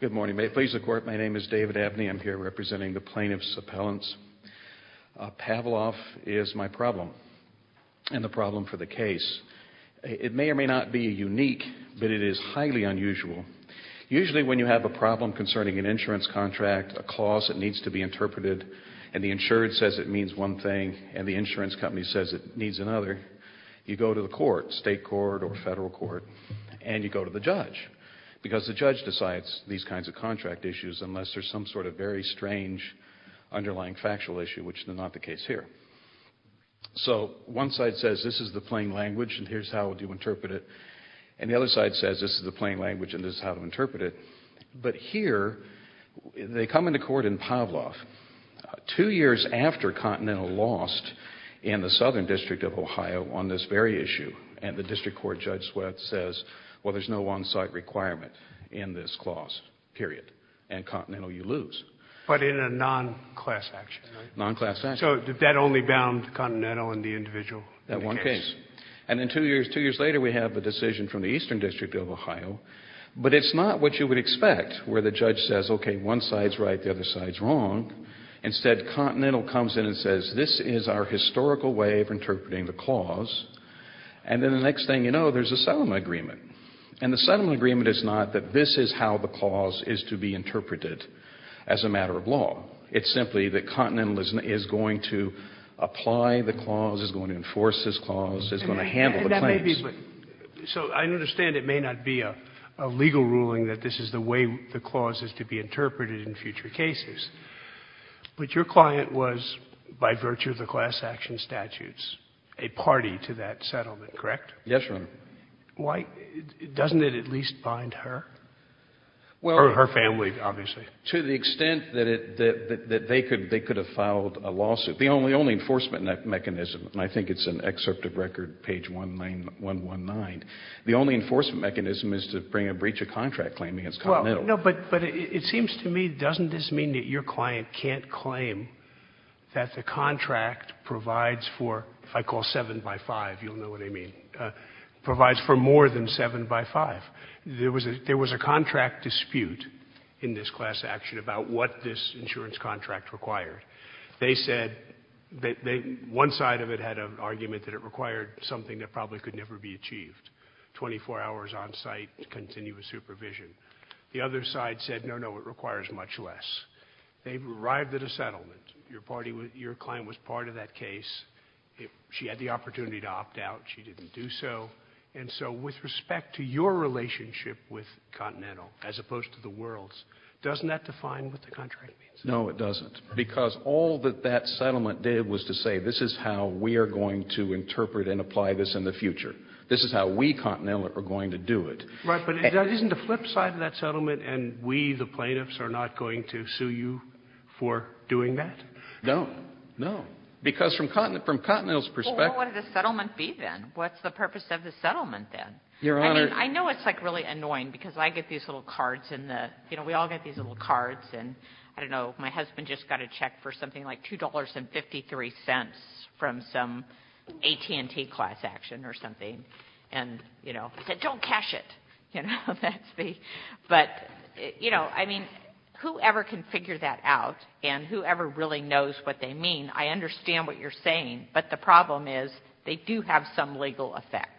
Good morning. May it please the Court, my name is David Abney. I'm here representing the plaintiffs' appellants. Pavlov is my problem, and the problem for the case. It may or may not be unique, but it is highly unusual. Usually when you have a problem concerning an insurance contract, a clause that needs to be interpreted, and the insured says it means one thing, and the insurance company says it needs another, you go to the court, state court or federal court, and you go to the judge, because the judge decides these kinds of contract issues unless there's some sort of very strange underlying factual issue, which is not the case here. So one side says this is the plain language and here's how to interpret it, and the other side says this is the plain language and this is how to interpret it. But here, they come into court in Pavlov. Two years after Continental lost in the Southern District of Ohio on this very issue, and the district court judge says, well, there's no on-site requirement in this clause, period. And Continental, you lose. But in a non-class action, right? Non-class action. So that only bound Continental and the individual in the case? That one case. And then two years later, we have a decision from the Eastern District of Ohio, but it's not what you would expect, where the judge says, okay, one side's right, the other side's wrong. Instead, Continental comes in and says this is our historical way of interpreting the clause, and then the next thing you know, there's a settlement agreement. And the settlement agreement is not that this is how the clause is to be interpreted as a matter of law. It's simply that Continental is going to apply the clause, is going to enforce this clause, is going to handle the claims. So I understand it may not be a legal ruling that this is the way the clause is to be interpreted in future cases. But your client was, by virtue of the class action statutes, a party to that settlement, correct? Yes, Your Honor. Why? Doesn't it at least bind her? Or her family, obviously. To the extent that they could have filed a lawsuit. The only enforcement mechanism, and I think it's in Excerpt of Record, page 119, the only enforcement mechanism is to bring a breach of contract claim against Continental. Well, no, but it seems to me, doesn't this mean that your client can't claim that the contract provides for, if I call 7 by 5, you'll know what I mean, provides for more than 7 by 5? There was a contract dispute in this class action about what this insurance contract required. They said, one side of it had an argument that it required something that probably could never be achieved, 24 hours on site, continuous supervision. The other side said, no, no, it requires much less. They arrived at a settlement. Your client was part of that case. She had the opportunity to opt out. She didn't do so. And so with respect to your relationship with Continental, as opposed to the world's, doesn't that define what the contract means? No, it doesn't, because all that that settlement did was to say, this is how we are going to interpret and apply this in the future. This is how we, Continental, are going to do it. Right. But isn't the flip side of that settlement, and we, the plaintiffs, are not going to sue you for doing that? No. No. Because from Continental's perspective. Well, what would the settlement be, then? What's the purpose of the settlement, then? Your Honor. I mean, I know it's, like, really annoying, because I get these little cards in the I don't know, my husband just got a check for something like $2.53 from some AT&T class action or something. And, you know, I said, don't cash it. You know, that's the, but, you know, I mean, whoever can figure that out, and whoever really knows what they mean, I understand what you're saying. But the problem is, they do have some legal effect.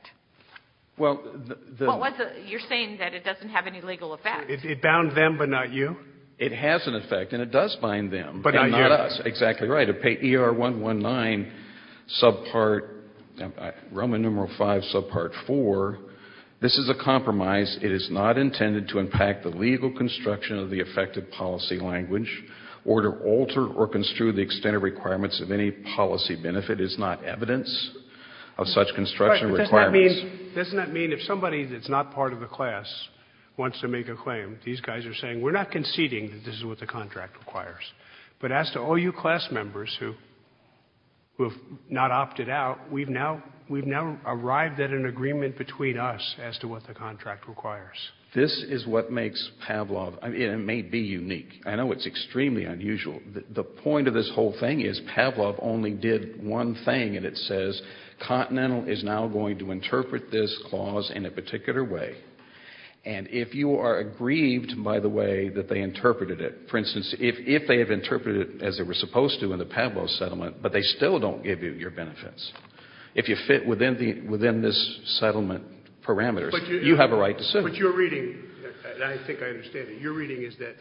Well, the. You're saying that it doesn't have any legal effect. It bound them, but not you? It has an effect, and it does bind them. But not you. And not us. Exactly right. ER-119, subpart, Roman numeral 5, subpart 4. This is a compromise. It is not intended to impact the legal construction of the effective policy language, or to alter or construe the extended requirements of any policy benefit. It is not evidence of such construction requirements. Doesn't that mean if somebody that's not part of the class wants to make a claim, these guys are saying, we're not conceding that this is what the contract requires. But as to all you class members who have not opted out, we've now arrived at an agreement between us as to what the contract requires. This is what makes Pavlov, and it may be unique. I know it's extremely unusual. The point of this whole thing is Pavlov only did one thing, and it says, Continental is now going to interpret this clause in a particular way. And if you are aggrieved, by the way, that they interpreted it, for instance, if they have interpreted it as they were supposed to in the Pavlov settlement, but they still don't give you your benefits, if you fit within this settlement parameters, you have a right to sue. But your reading, and I think I understand it, your reading is that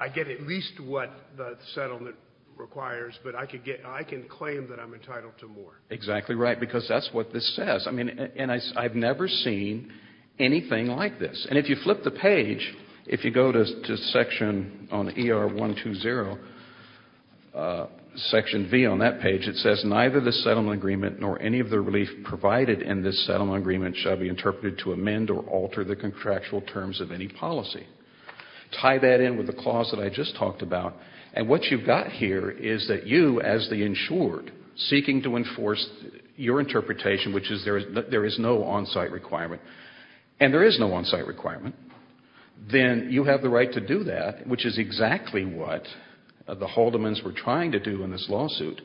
I get at least what the settlement requires, but I can claim that I'm entitled to more. Exactly right, because that's what this says. I mean, and I've never seen anything like this. And if you flip the page, if you go to section on ER120, section V on that page, it says, Neither the settlement agreement nor any of the relief provided in this settlement agreement shall be interpreted to amend or alter the contractual terms of any policy. Tie that in with the clause that I just talked about. And what you've got here is that you, as the insured, seeking to enforce your interpretation, which is there is no on-site requirement, and there is no on-site requirement, then you have the right to do that, which is exactly what the Haldemans were trying to do in this lawsuit,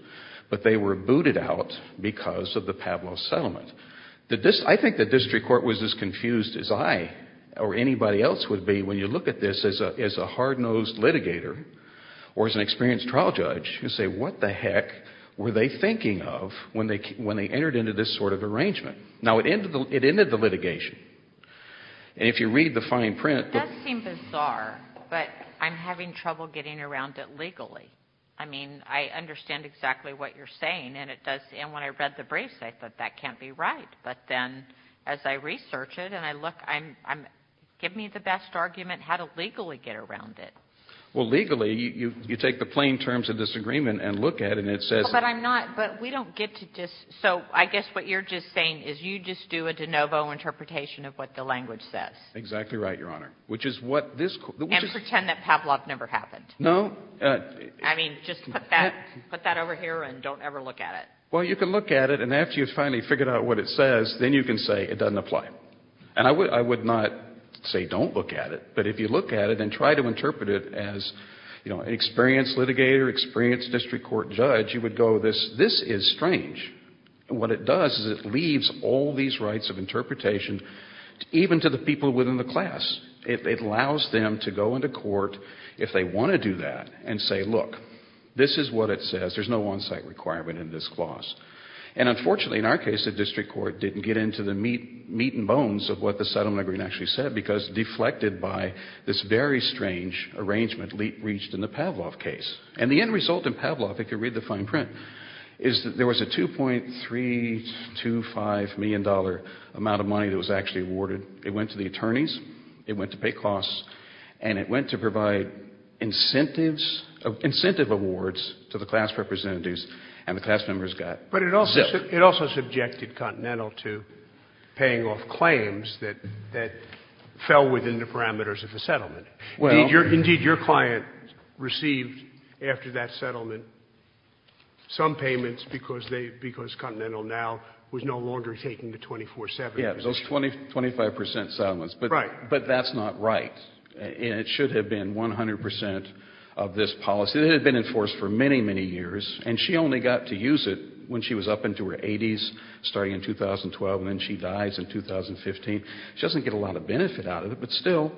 but they were booted out because of the Pavlov settlement. I think the district court was as confused as I or anybody else would be when you look at this as a hard-nosed litigator or as an experienced trial judge and say, What the heck were they thinking of when they entered into this sort of arrangement? Now, it ended the litigation. And if you read the fine print— It does seem bizarre, but I'm having trouble getting around it legally. I mean, I understand exactly what you're saying, and when I read the briefs, I thought, That can't be right. But then as I research it and I look, give me the best argument how to legally get around it. Well, legally, you take the plain terms of disagreement and look at it, and it says— But I'm not—but we don't get to just— So I guess what you're just saying is you just do a de novo interpretation of what the language says. Exactly right, Your Honor, which is what this— And pretend that Pavlov never happened. No. I mean, just put that over here and don't ever look at it. Well, you can look at it, and after you've finally figured out what it says, then you can say it doesn't apply. And I would not say don't look at it, but if you look at it and try to interpret it as an experienced litigator, experienced district court judge, you would go, This is strange. And what it does is it leaves all these rights of interpretation even to the people within the class. It allows them to go into court, if they want to do that, and say, Look, this is what it says. There's no on-site requirement in this clause. And unfortunately, in our case, the district court didn't get into the meat and bones of what the settlement agreement actually said because deflected by this very strange arrangement reached in the Pavlov case. And the end result in Pavlov, if you read the fine print, is that there was a $2.325 million amount of money that was actually awarded. It went to the attorneys. It went to pay costs. And it went to provide incentives, incentive awards to the class representatives, and the class members got zipped. But it also subjected Continental to paying off claims that fell within the parameters of the settlement. Indeed, your client received, after that settlement, some payments because Continental now was no longer taking the 24-7 position. Yes, those 25 percent settlements. Right. But that's not right. It should have been 100 percent of this policy. It had been enforced for many, many years, and she only got to use it when she was up into her 80s, starting in 2012, and then she dies in 2015. She doesn't get a lot of benefit out of it, but still,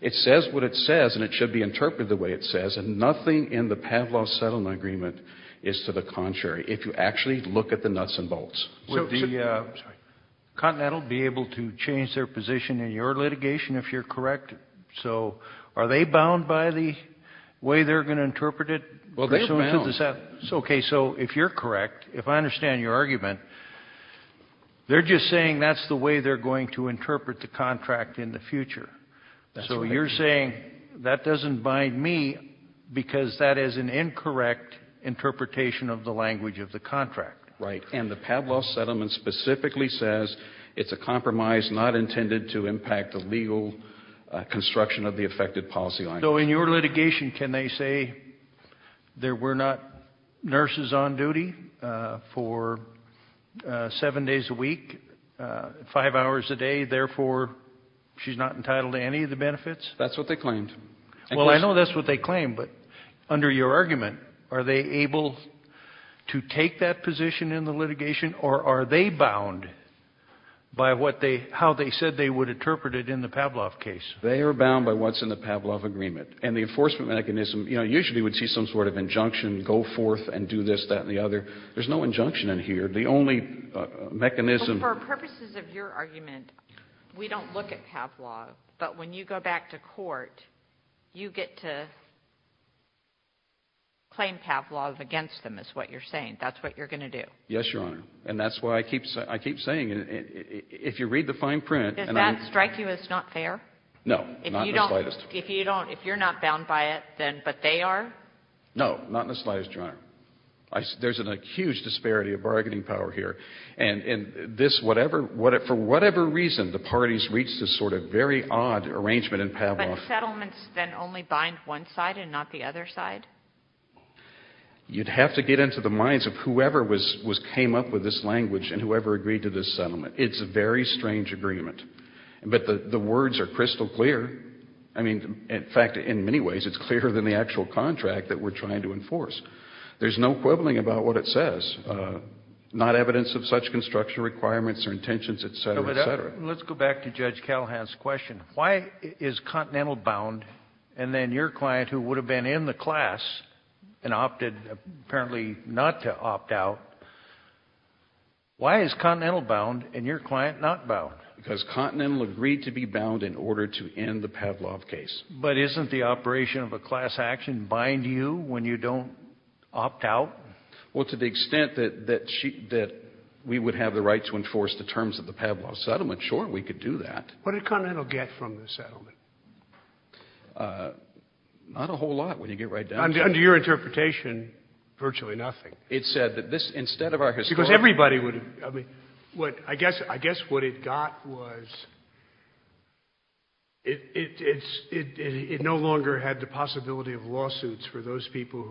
it says what it says, and it should be interpreted the way it says. And nothing in the Pavlov settlement agreement is to the contrary, if you actually look at the nuts and bolts. Would the Continental be able to change their position in your litigation, if you're correct? So are they bound by the way they're going to interpret it? Well, they're bound. Okay. So if you're correct, if I understand your argument, they're just saying that's the way they're going to interpret the contract in the future. So you're saying that doesn't bind me because that is an incorrect interpretation of the language of the contract. Right. And the Pavlov settlement specifically says it's a compromise not intended to impact the legal construction of the effective policy language. So in your litigation, can they say there were not nurses on duty for seven days a week, five hours a day, therefore she's not entitled to any of the benefits? That's what they claimed. Well, I know that's what they claimed, but under your argument, are they able to take that position in the litigation, or are they bound by how they said they would interpret it in the Pavlov case? They are bound by what's in the Pavlov agreement. And the enforcement mechanism, you know, usually would see some sort of injunction, go forth and do this, that, and the other. There's no injunction in here. For purposes of your argument, we don't look at Pavlov. But when you go back to court, you get to claim Pavlov against them is what you're saying. That's what you're going to do. Yes, Your Honor. And that's what I keep saying. If you read the fine print — Does that strike you as not fair? No, not in the slightest. If you're not bound by it, but they are? No, not in the slightest, Your Honor. There's a huge disparity of bargaining power here. And for whatever reason, the parties reach this sort of very odd arrangement in Pavlov. But settlements then only bind one side and not the other side? You'd have to get into the minds of whoever came up with this language and whoever agreed to this settlement. It's a very strange agreement. But the words are crystal clear. I mean, in fact, in many ways it's clearer than the actual contract that we're trying to enforce. There's no quibbling about what it says. Not evidence of such construction requirements or intentions, et cetera, et cetera. Let's go back to Judge Callahan's question. Why is Continental bound and then your client, who would have been in the class and opted apparently not to opt out, why is Continental bound and your client not bound? Because Continental agreed to be bound in order to end the Pavlov case. But isn't the operation of a class action bind you when you don't opt out? Well, to the extent that we would have the right to enforce the terms of the Pavlov settlement, sure, we could do that. What did Continental get from the settlement? Not a whole lot, when you get right down to it. Under your interpretation, virtually nothing. It said that this, instead of our historic... It no longer had the possibility of lawsuits for those people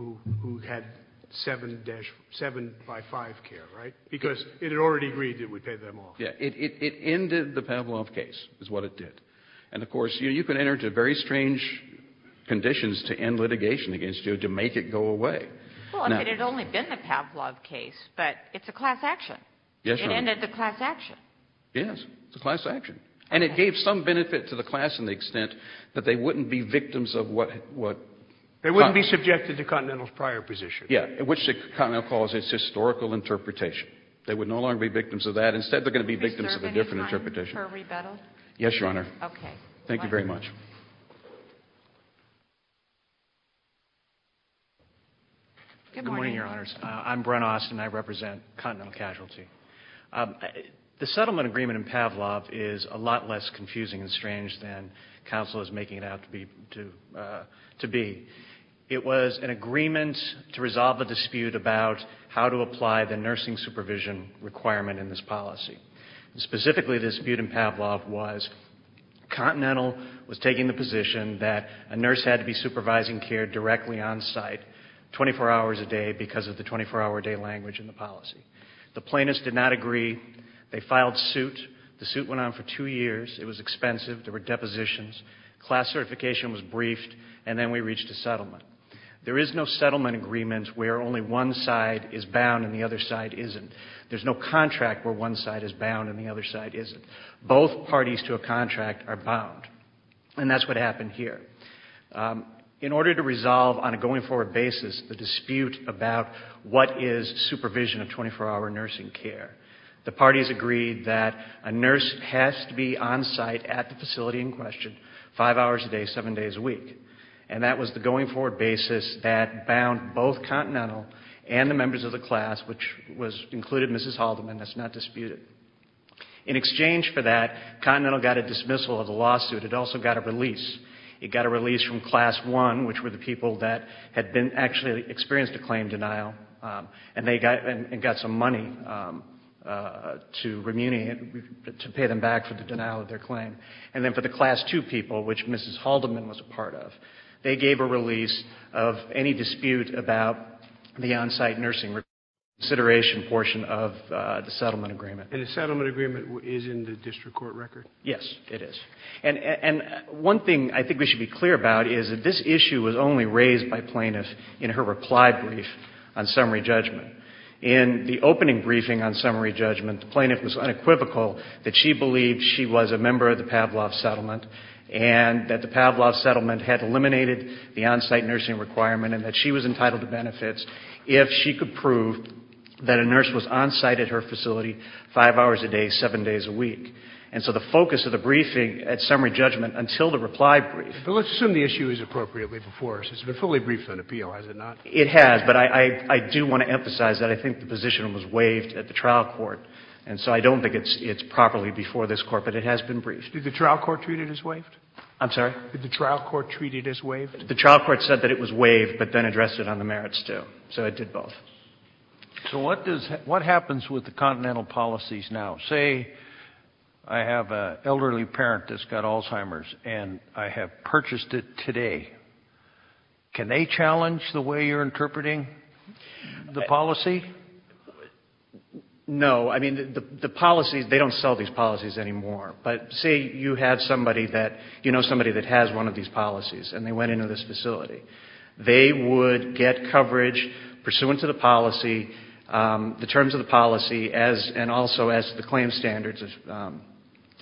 who had 7 by 5 care, right? Because it had already agreed that we'd pay them off. Yeah, it ended the Pavlov case is what it did. And, of course, you can enter into very strange conditions to end litigation against you to make it go away. Well, it had only been the Pavlov case, but it's a class action. Yes, Your Honor. It ended the class action. Yes, it's a class action. And it gave some benefit to the class in the extent that they wouldn't be victims of what... They wouldn't be subjected to Continental's prior position. Yeah, which Continental calls its historical interpretation. They would no longer be victims of that. Instead, they're going to be victims of a different interpretation. Yes, Your Honor. Okay. Thank you very much. Good morning, Your Honors. I'm Brent Austin. I represent Continental Casualty. The settlement agreement in Pavlov is a lot less confusing and strange than counsel is making it out to be. It was an agreement to resolve a dispute about how to apply the nursing supervision requirement in this policy. Specifically, the dispute in Pavlov was Continental was taking the position that a nurse had to be supervising care directly on site, 24 hours a day, because of the 24-hour-a-day language in the policy. The plaintiffs did not agree. They filed suit. The suit went on for two years. It was expensive. There were depositions. Class certification was briefed. And then we reached a settlement. There is no settlement agreement where only one side is bound and the other side isn't. There's no contract where one side is bound and the other side isn't. Both parties to a contract are bound. And that's what happened here. In order to resolve on a going-forward basis the dispute about what is supervision of 24-hour nursing care, the parties agreed that a nurse has to be on site at the facility in question five hours a day, seven days a week. And that was the going-forward basis that bound both Continental and the members of the class, which included Mrs. Haldeman. That's not disputed. In exchange for that, Continental got a dismissal of the lawsuit. It also got a release. It got a release from class one, which were the people that had actually experienced a claim denial, and got some money to pay them back for the denial of their claim. And then for the class two people, which Mrs. Haldeman was a part of, they gave a release of any dispute about the on-site nursing consideration portion of the settlement agreement. And the settlement agreement is in the district court record? Yes, it is. And one thing I think we should be clear about is that this issue was only raised by plaintiff in her reply brief on summary judgment. In the opening briefing on summary judgment, the plaintiff was unequivocal that she believed she was a member of the Pavlov settlement and that the Pavlov settlement had eliminated the on-site nursing requirement and that she was entitled to benefits if she could prove that a nurse was on site at her facility five hours a day, seven days a week. And so the focus of the briefing at summary judgment until the reply brief. But let's assume the issue is appropriately before us. It's been fully briefed on appeal, has it not? It has, but I do want to emphasize that I think the position was waived at the trial court. And so I don't think it's properly before this Court, but it has been briefed. Did the trial court treat it as waived? I'm sorry? Did the trial court treat it as waived? The trial court said that it was waived, but then addressed it on the merits, too. So it did both. So what happens with the continental policies now? Say I have an elderly parent that's got Alzheimer's, and I have purchased it today. Can they challenge the way you're interpreting the policy? No. I mean, the policies, they don't sell these policies anymore. But say you had somebody that, you know somebody that has one of these policies, and they went into this facility. They would get coverage pursuant to the policy, the terms of the policy, and also as the claim standards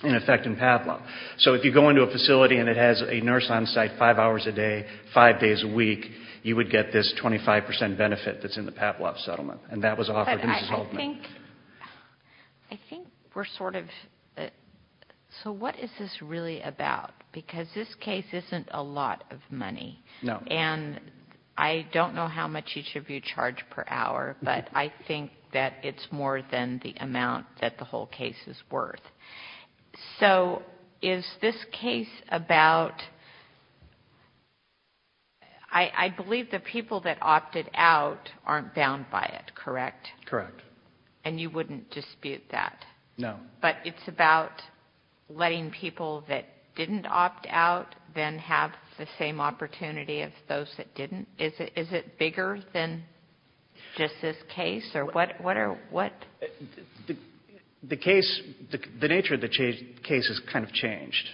in effect in PAPLA. So if you go into a facility and it has a nurse on site five hours a day, five days a week, you would get this 25 percent benefit that's in the PAPLA settlement. And that was offered to Mrs. Hultman. I think we're sort of, so what is this really about? Because this case isn't a lot of money. No. And I don't know how much each of you charge per hour, but I think that it's more than the amount that the whole case is worth. So is this case about, I believe the people that opted out aren't bound by it, correct? Correct. And you wouldn't dispute that? No. But it's about letting people that didn't opt out then have the same opportunity as those that didn't? Is it bigger than just this case, or what? The case, the nature of the case has kind of changed.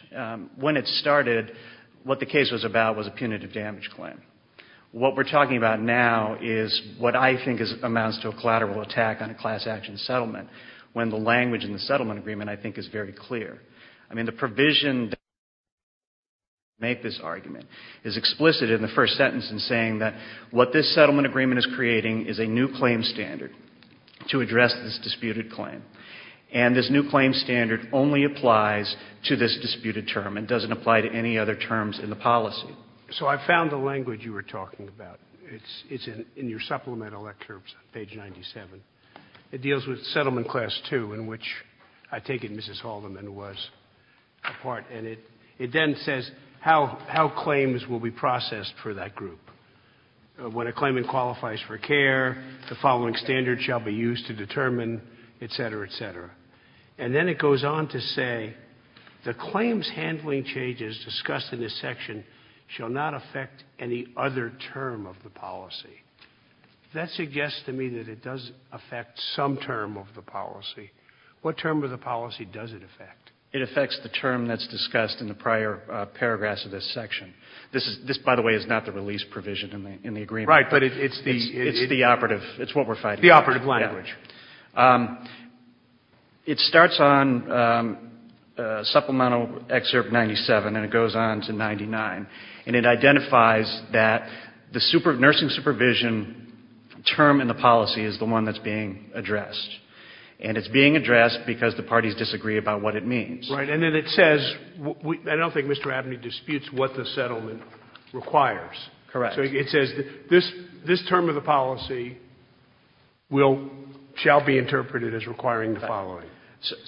When it started, what the case was about was a punitive damage claim. What we're talking about now is what I think amounts to a collateral attack on a class action settlement. When the language in the settlement agreement, I think, is very clear. I mean, the provision that makes this argument is explicit in the first sentence in saying that what this settlement agreement is creating is a new claim standard to address this disputed claim. And this new claim standard only applies to this disputed term. It doesn't apply to any other terms in the policy. So I found the language you were talking about. It's in your supplemental excerpts, page 97. It deals with settlement class 2, in which I take it Mrs. Haldeman was a part. And it then says how claims will be processed for that group. When a claimant qualifies for care, the following standard shall be used to determine, et cetera, et cetera. And then it goes on to say the claims handling changes discussed in this section shall not affect any other term of the policy. If that suggests to me that it does affect some term of the policy, what term of the policy does it affect? It affects the term that's discussed in the prior paragraphs of this section. This, by the way, is not the release provision in the agreement. Right, but it's the operative. It's what we're fighting for. The operative language. Yeah. It starts on supplemental excerpt 97 and it goes on to 99. And it identifies that the nursing supervision term in the policy is the one that's being addressed. And it's being addressed because the parties disagree about what it means. Right. And then it says, I don't think Mr. Abney disputes what the settlement requires. Correct. So it says this term of the policy shall be interpreted as requiring the following.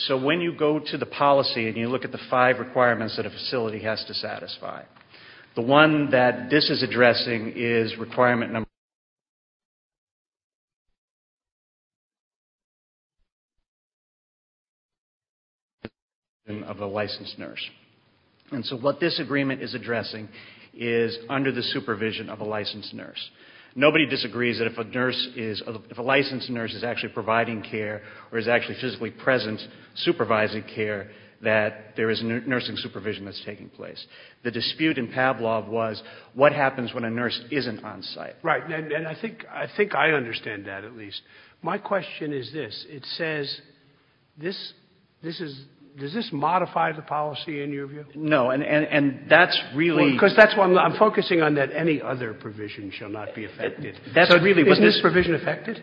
So when you go to the policy and you look at the five requirements that a facility has to satisfy, the one that this is addressing is requirement number one, the supervision of a licensed nurse. And so what this agreement is addressing is under the supervision of a licensed nurse. Nobody disagrees that if a licensed nurse is actually providing care or is actually physically present, supervising care, that there is nursing supervision that's taking place. The dispute in Pavlov was what happens when a nurse isn't on site. Right. And I think I understand that at least. My question is this. It says this is, does this modify the policy in your view? No, and that's really. Because that's why I'm focusing on that any other provision shall not be affected. Isn't this provision affected?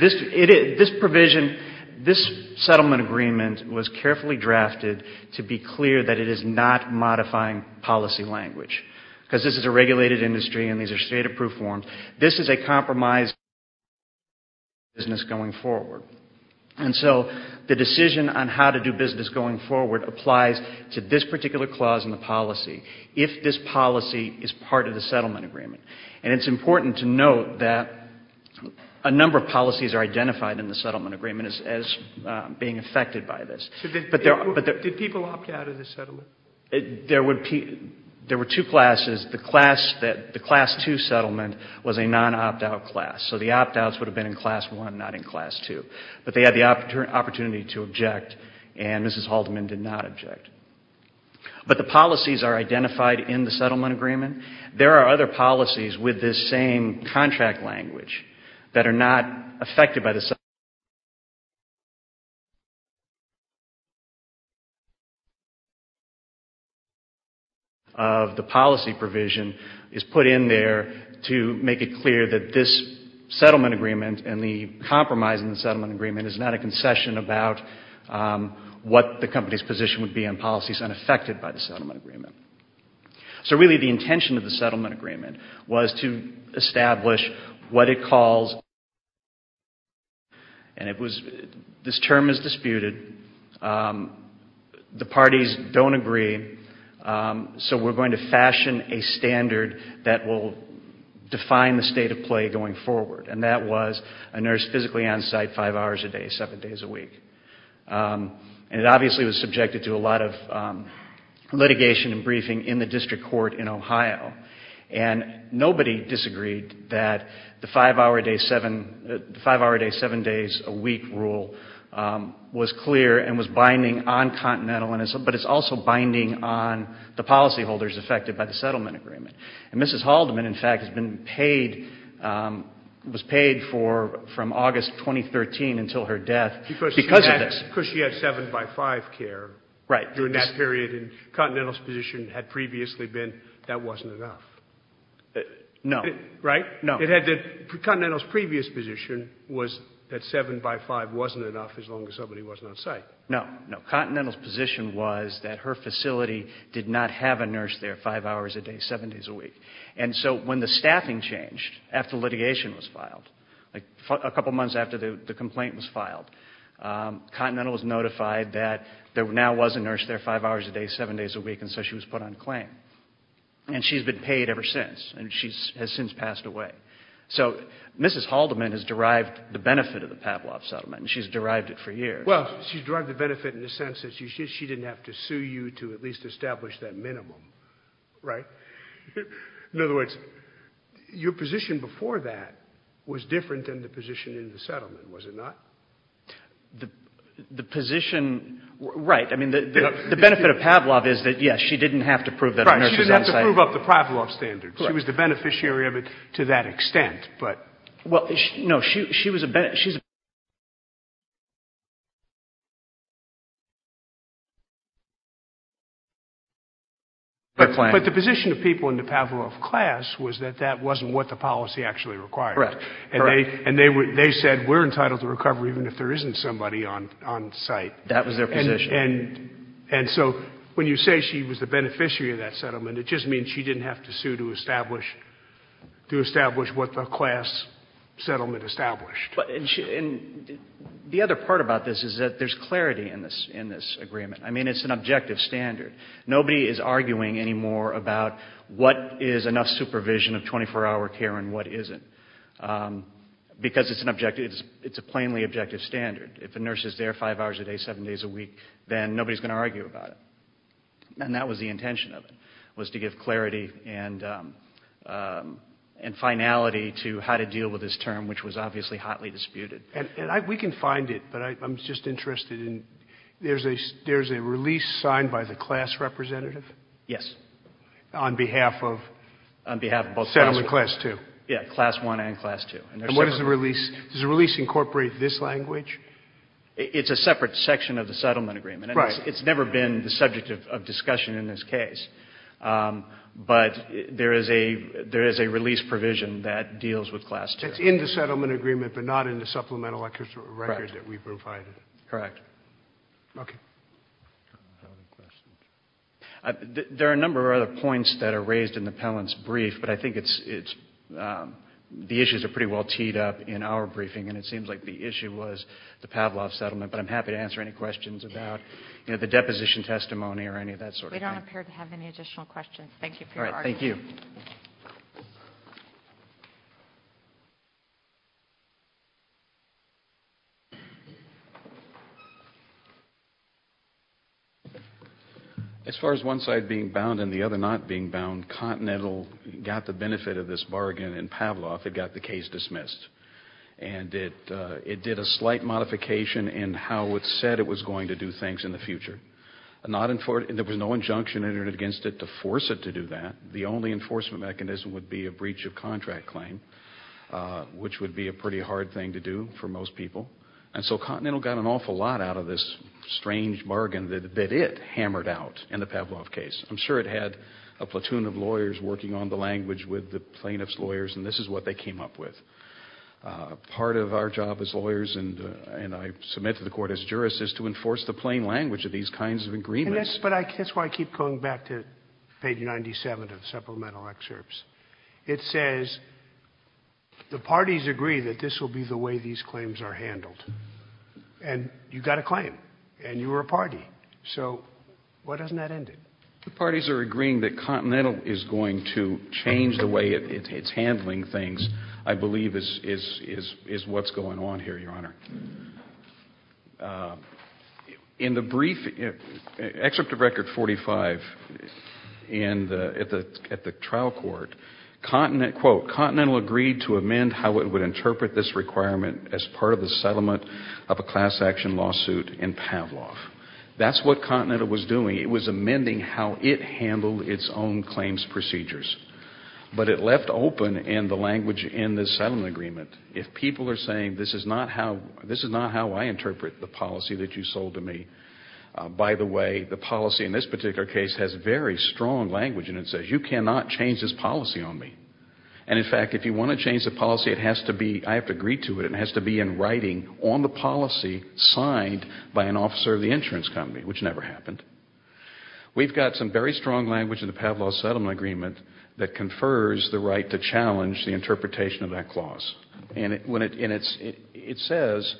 This provision, this settlement agreement was carefully drafted to be clear that it is not modifying policy language. Because this is a regulated industry and these are state approved forms. This is a compromise business going forward. And so the decision on how to do business going forward applies to this particular clause in the policy, if this policy is part of the settlement agreement. And it's important to note that a number of policies are identified in the settlement agreement as being affected by this. Did people opt out of the settlement? There were two classes. The class two settlement was a non-opt out class. So the opt outs would have been in class one, not in class two. But they had the opportunity to object and Mrs. Haldeman did not object. But the policies are identified in the settlement agreement. There are other policies with this same contract language that are not affected by the settlement agreement. Of the policy provision is put in there to make it clear that this settlement agreement and the compromise in the settlement agreement is not a concession about what the company's position would be on policies unaffected by the settlement agreement. So really the intention of the settlement agreement was to establish what it calls and this term is disputed. The parties don't agree. So we're going to fashion a standard that will define the state of play going forward. And that was a nurse physically on site five hours a day, seven days a week. And it obviously was subjected to a lot of litigation and briefing in the district court in Ohio. And nobody disagreed that the five hour a day, seven days a week rule was clear and was binding on continental, but it's also binding on the policyholders affected by the settlement agreement. And Mrs. Haldeman in fact has been paid, was paid from August 2013 until her death because she had seven by five care during that period. And continental's position had previously been that wasn't enough. Right? Continental's previous position was that seven by five wasn't enough as long as somebody wasn't on site. No, no. Continental's position was that her facility did not have a nurse there five hours a day, seven days a week. And so when the staffing changed after litigation was filed, a couple months after the complaint was filed, continental was notified that there now was a nurse there five hours a day, seven days a week and so she was put on claim. And she's been paid ever since and she has since passed away. So Mrs. Haldeman has derived the benefit of the Pavlov settlement and she's derived it for years. Well, she's derived the benefit in the sense that she didn't have to sue you to at least establish that minimum. Right? In other words, your position before that was different than the position in the settlement, was it not? The position, right. I mean, the benefit of Pavlov is that, yes, she didn't have to prove that the nurse was on site. Right. She didn't have to prove up the Pavlov standards. She was the beneficiary of it to that extent. But the position of people in the Pavlov class was that that wasn't what the policy actually required. Correct. And so when you say she was the beneficiary of that settlement, it just means she didn't have to sue to establish what the class settlement established. And the other part about this is that there's clarity in this agreement. I mean, it's an objective standard. Nobody is arguing anymore about what is enough supervision of 24-hour care and what isn't. Because it's an objective, it's a plainly objective standard. If a nurse is there five hours a day, seven days a week, then nobody is going to argue about it. And that was the intention of it, was to give clarity and finality to how to deal with this term, which was obviously hotly disputed. And we can find it, but I'm just interested in, there's a release signed by the class representative? Yes. On behalf of both classes? Settlement class two. Yeah, class one and class two. And what is the release? Does the release incorporate this language? It's a separate section of the settlement agreement. It's never been the subject of discussion in this case. But there is a release provision that deals with class two. It's in the settlement agreement, but not in the supplemental record that we provided? Correct. There are a number of other points that are raised in the Pellant's brief, but I think it's, the issues are pretty well teed up in our briefing, and it seems like the issue was the Pavlov settlement, but I'm happy to answer any questions about the deposition testimony or any of that sort of thing. We don't appear to have any additional questions. As far as one side being bound and the other not being bound, Continental got the benefit of this bargain in Pavlov. It got the case dismissed, and it did a slight modification in how it said it was going to do things in the future. There was no injunction entered against it to force it to do that. The only enforcement mechanism would be a breach of contract claim, which would be a pretty hard thing to do for most people. And so Continental got an awful lot out of this strange bargain that it hammered out in the Pavlov case. I'm sure it had a platoon of lawyers working on the language with the plaintiff's lawyers, and this is what they came up with. Part of our job as lawyers, and I submit to the court as jurist, is to enforce the plain language of these kinds of agreements. But that's why I keep going back to page 97 of the supplemental excerpts. It says the parties agree that this will be the way these claims are handled. And you got a claim, and you were a party. So why doesn't that end it? The parties are agreeing that Continental is going to change the way it's handling things, I believe, is what's going on here, Your Honor. In the brief excerpt of Record 45 at the trial court, quote, Continental agreed to amend how it would interpret this requirement as part of the settlement of a class action lawsuit in Pavlov. That's what Continental was doing. It was amending how it handled its own claims procedures. But it left open in the language in the settlement agreement, if people are saying this is not how I interpret the policy that you sold to me. By the way, the policy in this particular case has very strong language in it. It says you cannot change this policy on me. And in fact, if you want to change the policy, I have to agree to it. It has to be in writing on the policy signed by an officer of the insurance company, which never happened. We've got some very strong language in the Pavlov settlement agreement that confers the right to challenge the interpretation of that clause. And it says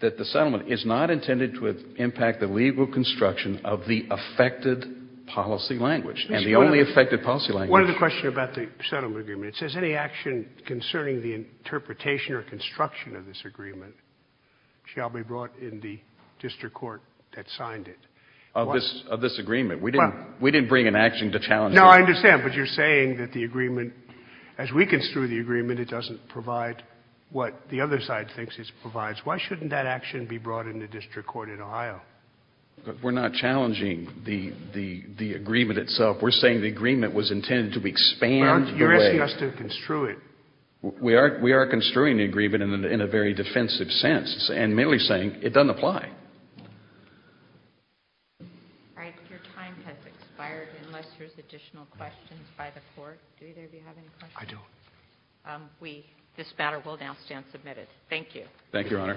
that the settlement is not intended to impact the legal construction of the affected policy language. And the only affected policy language. One other question about the settlement agreement. It says any action concerning the interpretation or construction of this agreement shall be brought in the district court that signed it. Of this agreement. We didn't bring an action to challenge it. No, I understand, but you're saying that the agreement, as we construe the agreement, it doesn't provide what the other side thinks it provides. Why shouldn't that action be brought in the district court in Ohio? We're not challenging the agreement itself. We're saying the agreement was intended to expand the way. You're asking us to construe it. We are construing the agreement in a very defensive sense. And merely saying it doesn't apply. Your time has expired unless there's additional questions by the court. Do either of you have any questions? I do.